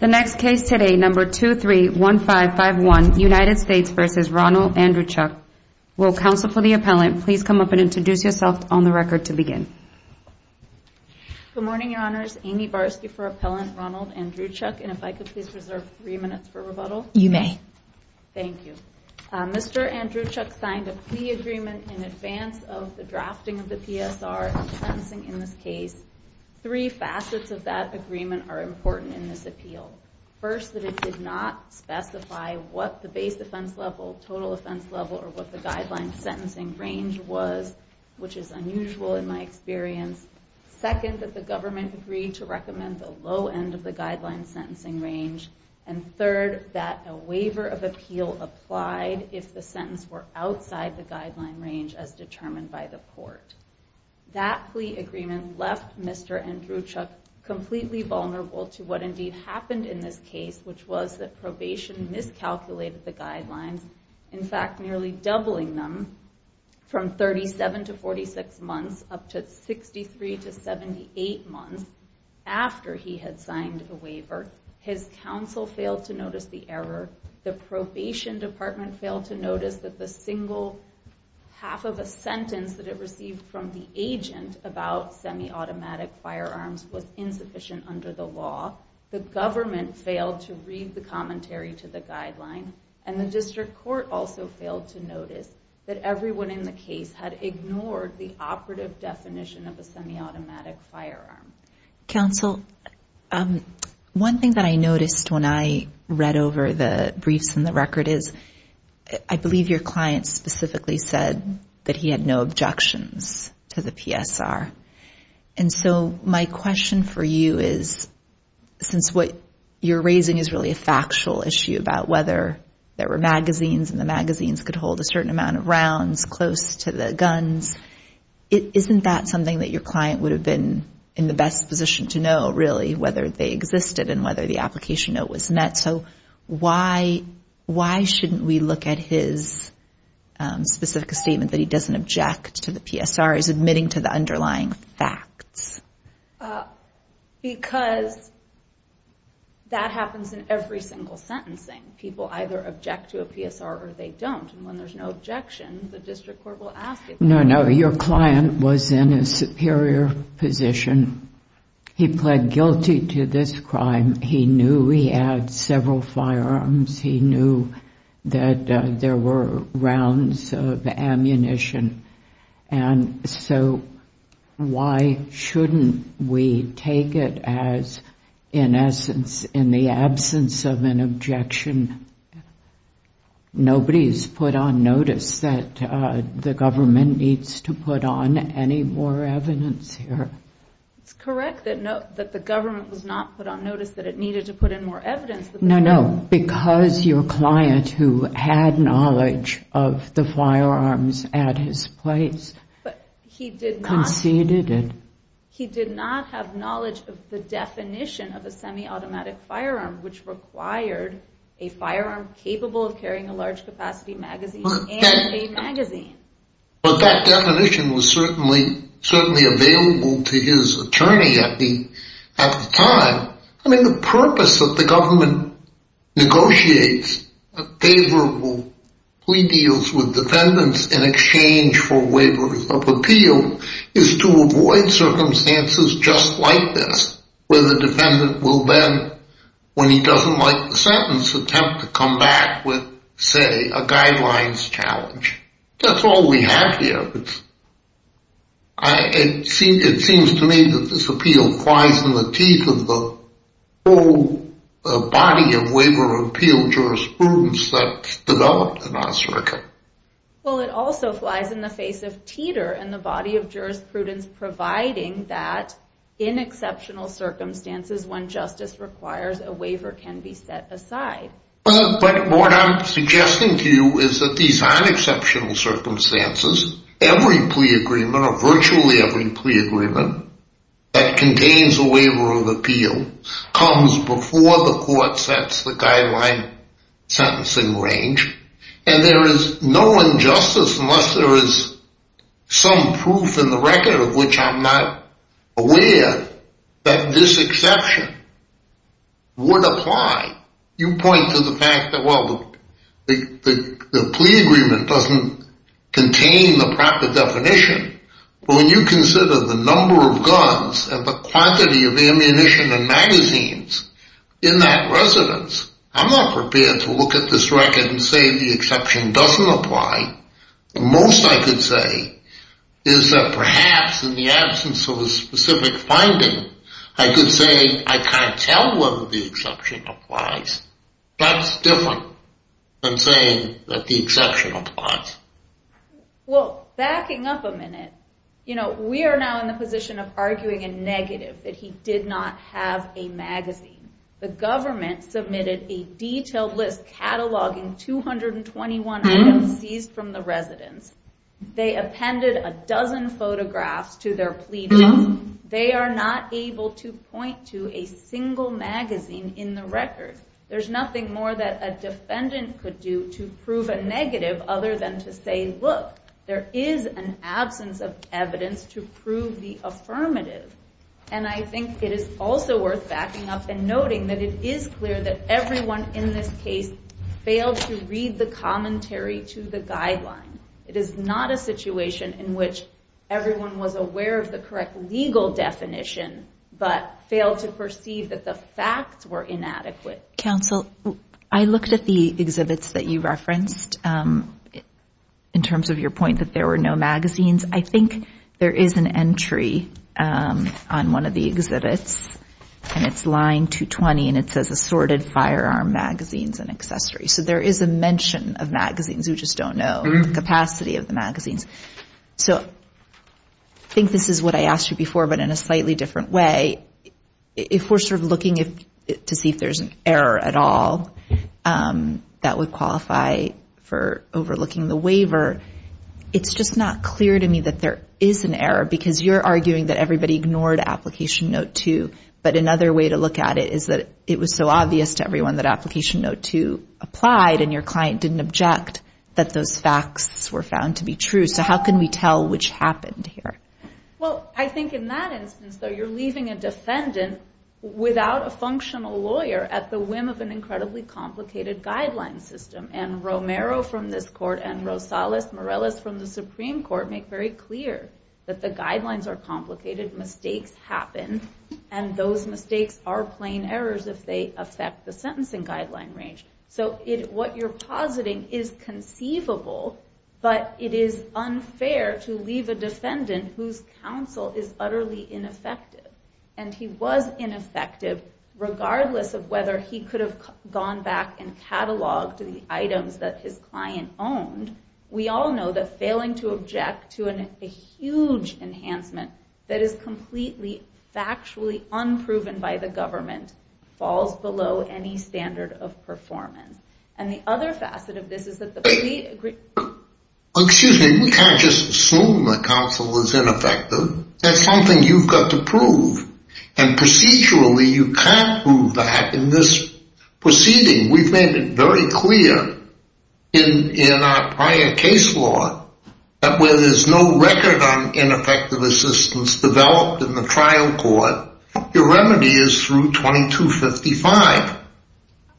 The next case today, number 231551, United States v. Ronald Andruchuk. Will counsel for the appellant please come up and introduce yourself on the record to begin. Good morning, Your Honors. Amy Barsky for Appellant Ronald Andruchuk. And if I could please reserve three minutes for rebuttal. You may. Thank you. Mr. Andruchuk signed a plea agreement in advance of the drafting of the PSR sentencing in this case. Three facets of that agreement are important in this appeal. First, that it did not specify what the base offense level, total offense level, or what the guideline sentencing range was, which is unusual in my experience. Second, that the government agreed to recommend the low end of the guideline sentencing range. And third, that a waiver of appeal applied if the sentence were outside the guideline range as determined by the court. That plea agreement left Mr. Andruchuk completely vulnerable to what indeed happened in this case, which was that probation miscalculated the guidelines. In fact, nearly doubling them from 37 to 46 months up to 63 to 78 months after he had signed a waiver. His counsel failed to notice the error. The probation department failed to notice that the single half of a sentence that it received from the agent about semi-automatic firearms was insufficient under the law. The government failed to read the commentary to the guideline. And the district court also failed to notice that everyone in the case had ignored the operative definition of a semi-automatic firearm. Counsel, one thing that I noticed when I read over the briefs and the record is, I believe your client specifically said that he had no objections to the PSR. And so my question for you is, since what you're raising is really a factual issue about whether there were magazines and the magazines could hold a certain amount of rounds close to the guns, isn't that something that your client would have been in the best position to know, really, whether they existed and whether the application note was met? So why shouldn't we look at his specific statement that he doesn't object to the PSR? He's admitting to the underlying facts. Because that happens in every single sentencing. People either object to a PSR or they don't. And when there's no objection, the district court will ask it. No, no, your client was in a superior position. He pled guilty to this crime. He knew he had several firearms. He knew that there were rounds of ammunition. And so why shouldn't we take it as, in essence, in the absence of an objection? Nobody's put on notice that the government needs to put on any more evidence here. It's correct that the government was not put on notice that it needed to put in more evidence. No, no, because your client, who had knowledge of the firearms at his place, conceded it. He did not have knowledge of the definition of a semi-automatic firearm, which required a firearm capable of carrying a large-capacity magazine and a magazine. But that definition was certainly available to his attorney at the time. I mean, the purpose of the government negotiates favorable plea deals with defendants in exchange for waivers of appeal is to avoid circumstances just like this, where the defendant will then, when he doesn't like the sentence, attempt to come back with, say, a guidelines challenge. That's all we have here. It seems to me that this appeal flies in the teeth of the whole body of waiver of appeal jurisprudence that's developed in our circuit. Well, it also flies in the face of teeter in the body of jurisprudence, providing that in exceptional circumstances, when justice requires, a waiver can be set aside. But what I'm suggesting to you is that these aren't exceptional circumstances. Every plea agreement, or virtually every plea agreement, that contains a waiver of appeal comes before the court sets the guideline sentencing range. And there is no injustice unless there is some proof in the record of which I'm not aware that this exception would apply. You point to the fact that, well, the plea agreement doesn't contain the proper definition. When you consider the number of guns and the quantity of ammunition and magazines in that residence, I'm not prepared to look at this record and say the exception doesn't apply. The most I could say is that perhaps in the absence of a specific finding, I could say I can't tell whether the exception applies. That's different than saying that the exception applies. Well, backing up a minute, you know, we are now in the position of arguing a negative, that he did not have a magazine. The government submitted a detailed list cataloging 221 items seized from the residence. They appended a dozen photographs to their pleadings. They are not able to point to a single magazine in the record. There's nothing more that a defendant could do to prove a negative other than to say, look, there is an absence of evidence to prove the affirmative. And I think it is also worth backing up and noting that it is clear that everyone in this case failed to read the commentary to the guideline. It is not a situation in which everyone was aware of the correct legal definition but failed to perceive that the facts were inadequate. Counsel, I looked at the exhibits that you referenced in terms of your point that there were no magazines. I think there is an entry on one of the exhibits, and it's line 220, and it says assorted firearm magazines and accessories. So there is a mention of magazines. We just don't know the capacity of the magazines. So I think this is what I asked you before but in a slightly different way. If we're sort of looking to see if there's an error at all that would qualify for overlooking the waiver, it's just not clear to me that there is an error because you're arguing that everybody ignored Application Note 2. But another way to look at it is that it was so obvious to everyone that Application Note 2 applied and your client didn't object that those facts were found to be true. So how can we tell which happened here? Well, I think in that instance, though, you're leaving a defendant without a functional lawyer at the whim of an incredibly complicated guideline system. And Romero from this court and Rosales Morelis from the Supreme Court make very clear that the guidelines are complicated, mistakes happen, and those mistakes are plain errors if they affect the sentencing guideline range. So what you're positing is conceivable, but it is unfair to leave a defendant whose counsel is utterly ineffective. And he was ineffective regardless of whether he could have gone back and cataloged the items that his client owned. We all know that failing to object to a huge enhancement that is completely factually unproven by the government falls below any standard of performance. And the other facet of this is that the plea agreement... Excuse me, we can't just assume the counsel was ineffective. That's something you've got to prove. And procedurally you can't prove that in this proceeding. We've made it very clear in our prior case law that where there's no record on ineffective assistance developed in the trial court, your remedy is through 2255.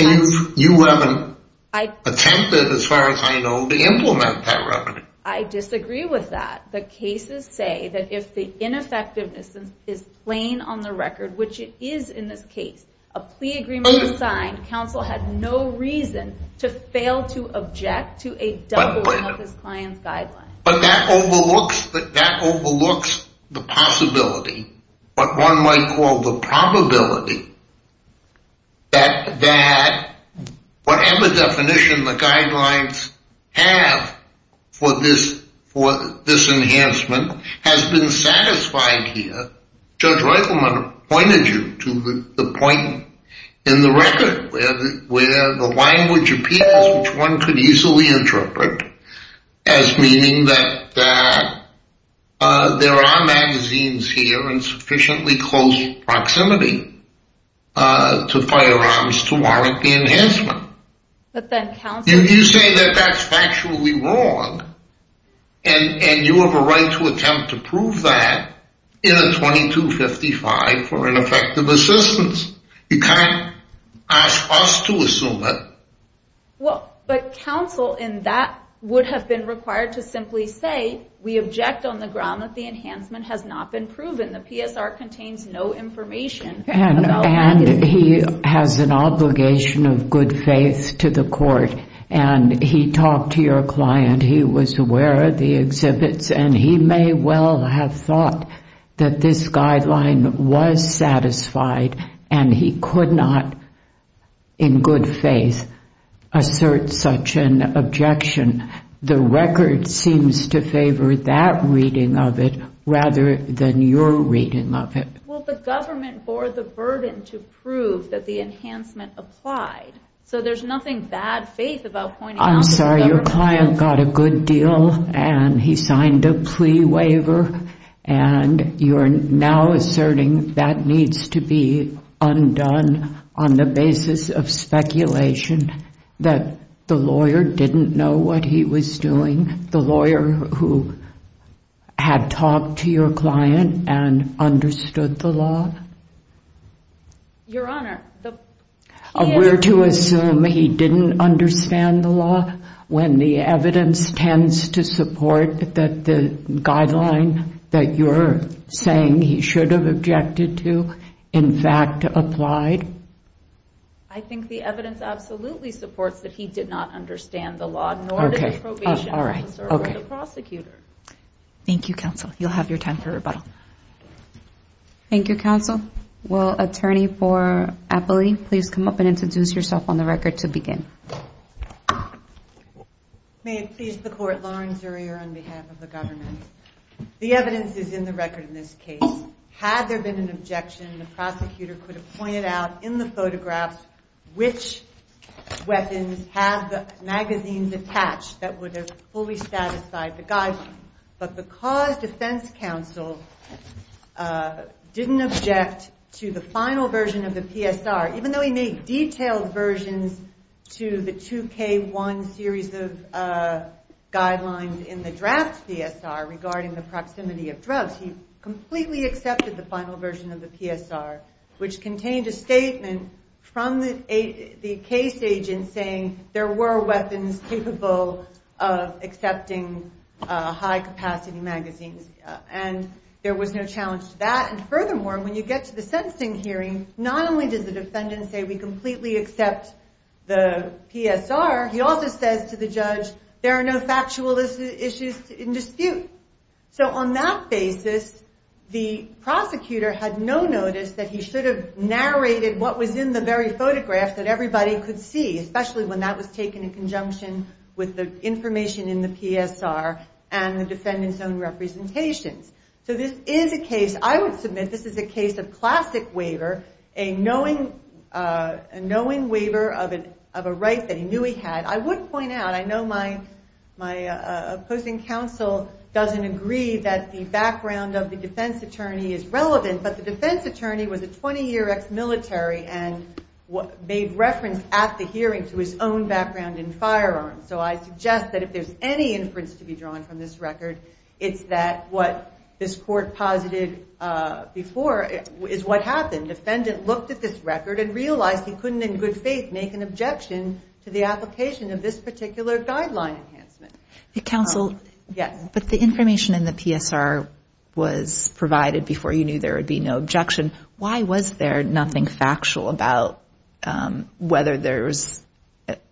And you haven't attempted, as far as I know, to implement that remedy. I disagree with that. The cases say that if the ineffectiveness is plain on the record, which it is in this case, a plea agreement was signed. Counsel had no reason to fail to object to a doubling of his client's guideline. But that overlooks the possibility, what one might call the probability, that whatever definition the guidelines have for this enhancement has been satisfied here. Judge Reichelman pointed you to the point in the record where the language appears, which one could easily interpret as meaning that there are magazines here in sufficiently close proximity to firearms to warrant the enhancement. You say that that's factually wrong, and you have a right to attempt to prove that in a 2255 for ineffective assistance. You can't ask us to assume it. Well, but counsel in that would have been required to simply say, we object on the ground that the enhancement has not been proven. The PSR contains no information. And he has an obligation of good faith to the court, and he talked to your client. He was aware of the exhibits, and he may well have thought that this guideline was satisfied, and he could not, in good faith, assert such an objection. The record seems to favor that reading of it rather than your reading of it. Well, the government bore the burden to prove that the enhancement applied, so there's nothing bad faith about pointing out to the government. I'm sorry. Your client got a good deal, and he signed a plea waiver, and you're now asserting that needs to be undone on the basis of speculation, that the lawyer didn't know what he was doing, the lawyer who had talked to your client and understood the law? Your Honor, the PSR. Were to assume he didn't understand the law when the evidence tends to support that the guideline that you're saying he should have objected to, in fact, applied? I think the evidence absolutely supports that he did not understand the law, nor did the probation officer or the prosecutor. Thank you, counsel. You'll have your time for rebuttal. Thank you, counsel. Will attorney for Appley please come up and introduce yourself on the record to begin? May it please the Court, Lauren Zurier on behalf of the government. The evidence is in the record in this case. Had there been an objection, the prosecutor could have pointed out in the photographs which weapons had the magazines attached that would have fully satisfied the guideline. But because defense counsel didn't object to the final version of the PSR, even though he made detailed versions to the 2K1 series of guidelines in the draft PSR regarding the proximity of drugs, he completely accepted the final version of the PSR, which contained a statement from the case agent saying there were weapons capable of accepting high-capacity magazines. And there was no challenge to that. And furthermore, when you get to the sentencing hearing, not only does the defendant say we completely accept the PSR, he also says to the judge there are no factual issues in dispute. So on that basis, the prosecutor had no notice that he should have narrated what was in the very photographs that everybody could see, especially when that was taken in conjunction with the information in the PSR and the defendant's own representations. So this is a case, I would submit this is a case of classic waiver, a knowing waiver of a right that he knew he had. I would point out, I know my opposing counsel doesn't agree that the background of the defense attorney is relevant, but the defense attorney was a 20-year ex-military and made reference at the hearing to his own background in firearms. So I suggest that if there's any inference to be drawn from this record, it's that what this court posited before is what happened. The defendant looked at this record and realized he couldn't in good faith make an objection to the application of this particular guideline enhancement. Counsel, but the information in the PSR was provided before you knew there would be no objection. Why was there nothing factual about whether there's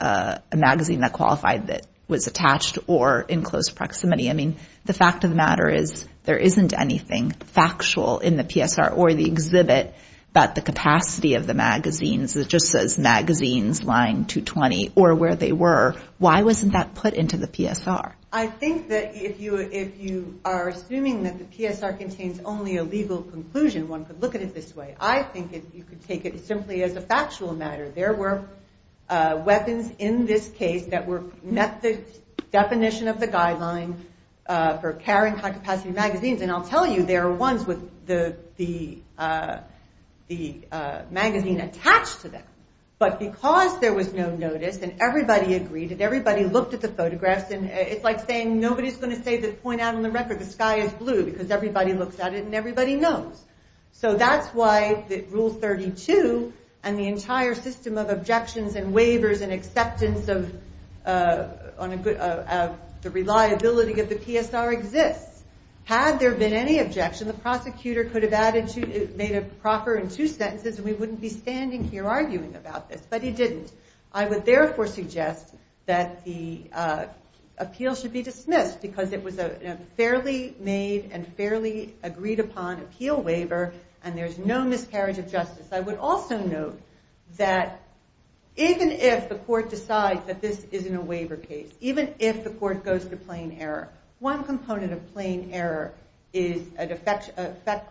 a magazine that qualified that was attached or in close proximity? I mean, the fact of the matter is there isn't anything factual in the PSR or the exhibit about the capacity of the magazines. It just says magazines, line 220, or where they were. Why wasn't that put into the PSR? I think that if you are assuming that the PSR contains only a legal conclusion, one could look at it this way. I think you could take it simply as a factual matter. There were weapons in this case that met the definition of the guideline for carrying high-capacity magazines, and I'll tell you there are ones with the magazine attached to them. But because there was no notice and everybody agreed, and everybody looked at the photographs, it's like saying nobody's going to point out on the record the sky is blue because everybody looks at it and everybody knows. So that's why Rule 32 and the entire system of objections and waivers and acceptance of the reliability of the PSR exists. Had there been any objection, the prosecutor could have made a proffer in two sentences and we wouldn't be standing here arguing about this, but he didn't. I would therefore suggest that the appeal should be dismissed because it was a fairly made and fairly agreed upon appeal waiver and there's no miscarriage of justice. I would also note that even if the court decides that this isn't a waiver case, even if the court goes to plain error, one component of plain error is an effect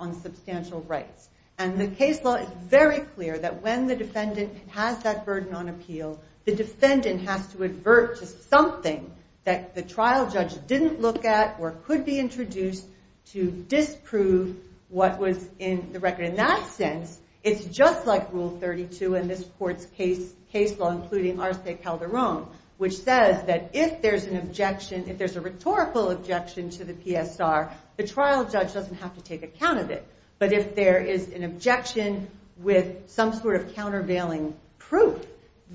on substantial rights. And the case law is very clear that when the defendant has that burden on appeal, the defendant has to advert just something that the trial judge didn't look at or could be introduced to disprove what was in the record. In that sense, it's just like Rule 32 in this court's case law, including Arce Calderon, which says that if there's an objection, if there's a rhetorical objection to the PSR, the trial judge doesn't have to take account of it. But if there is an objection with some sort of countervailing proof,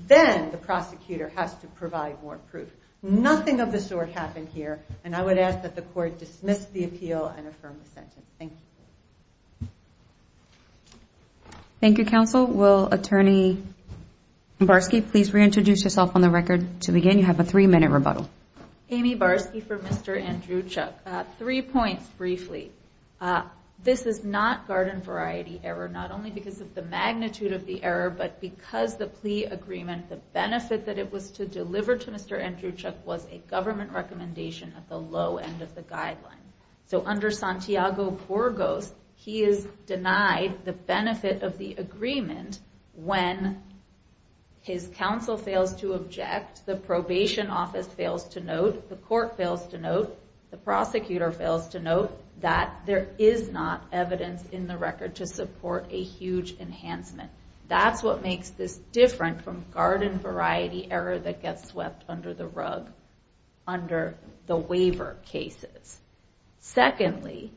then the prosecutor has to provide more proof. Nothing of the sort happened here, and I would ask that the court dismiss the appeal and affirm the sentence. Thank you. Thank you, counsel. Will Attorney Mbarski please reintroduce herself on the record to begin? You have a three-minute rebuttal. Amy Barski for Mr. Andruchuk. Three points, briefly. This is not garden variety error, not only because of the magnitude of the error, but because the plea agreement, the benefit that it was to deliver to Mr. Andruchuk, was a government recommendation at the low end of the guideline. So under Santiago-Puergos, he is denied the benefit of the agreement when his counsel fails to object, the probation office fails to note, the court fails to note, the prosecutor fails to note, that there is not evidence in the record to support a huge enhancement. That's what makes this different from garden variety error that gets swept under the rug under the waiver cases. Secondly,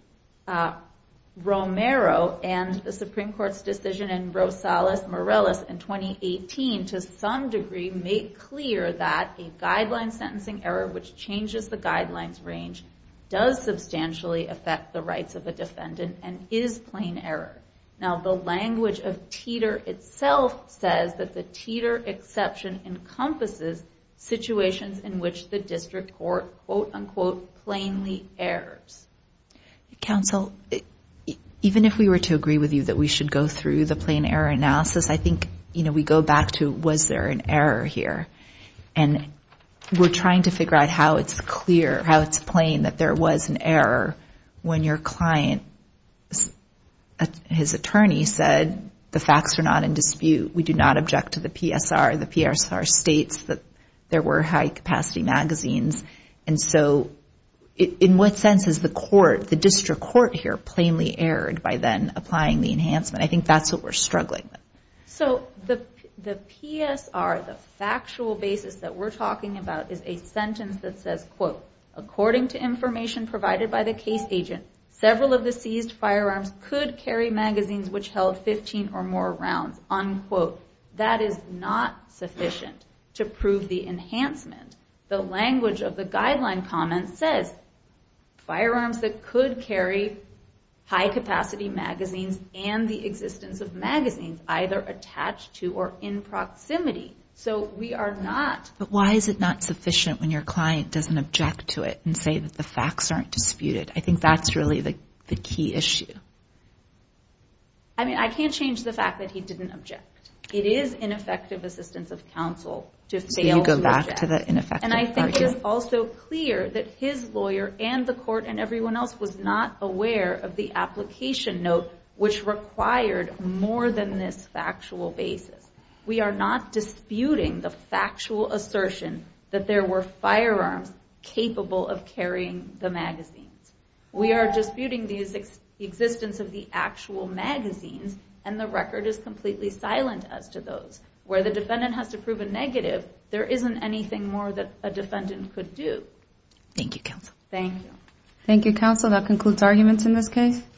Romero and the Supreme Court's decision in Rosales-Morales in 2018, to some degree, make clear that a guideline sentencing error, which changes the guidelines range, does substantially affect the rights of a defendant and is plain error. Now, the language of Teeter itself says that the Teeter exception encompasses situations in which the district court, quote, unquote, plainly errors. Counsel, even if we were to agree with you that we should go through the plain error analysis, I think we go back to was there an error here. And we're trying to figure out how it's clear, how it's plain that there was an error when your client, his attorney, said the facts are not in dispute, we do not object to the PSR. The PSR states that there were high-capacity magazines. And so in what sense is the court, the district court here, plainly errored by then applying the enhancement? I think that's what we're struggling with. So the PSR, the factual basis that we're talking about, is a sentence that says, quote, according to information provided by the case agent, several of the seized firearms could carry magazines which held 15 or more rounds, unquote. That is not sufficient to prove the enhancement. The language of the guideline comment says firearms that could carry high-capacity magazines and the existence of magazines either attached to or in proximity. So we are not... But why is it not sufficient when your client doesn't object to it and say that the facts aren't disputed? I think that's really the key issue. I mean, I can't change the fact that he didn't object. It is ineffective assistance of counsel to fail to object. So you go back to the ineffective argument? And I think it is also clear that his lawyer and the court and everyone else was not aware of the application note which required more than this factual basis. We are not disputing the factual assertion that there were firearms capable of carrying the magazines. We are disputing the existence of the actual magazines and the record is completely silent as to those. Where the defendant has to prove a negative, there isn't anything more that a defendant could do. Thank you, counsel. Thank you. Thank you, counsel. That concludes arguments in this case.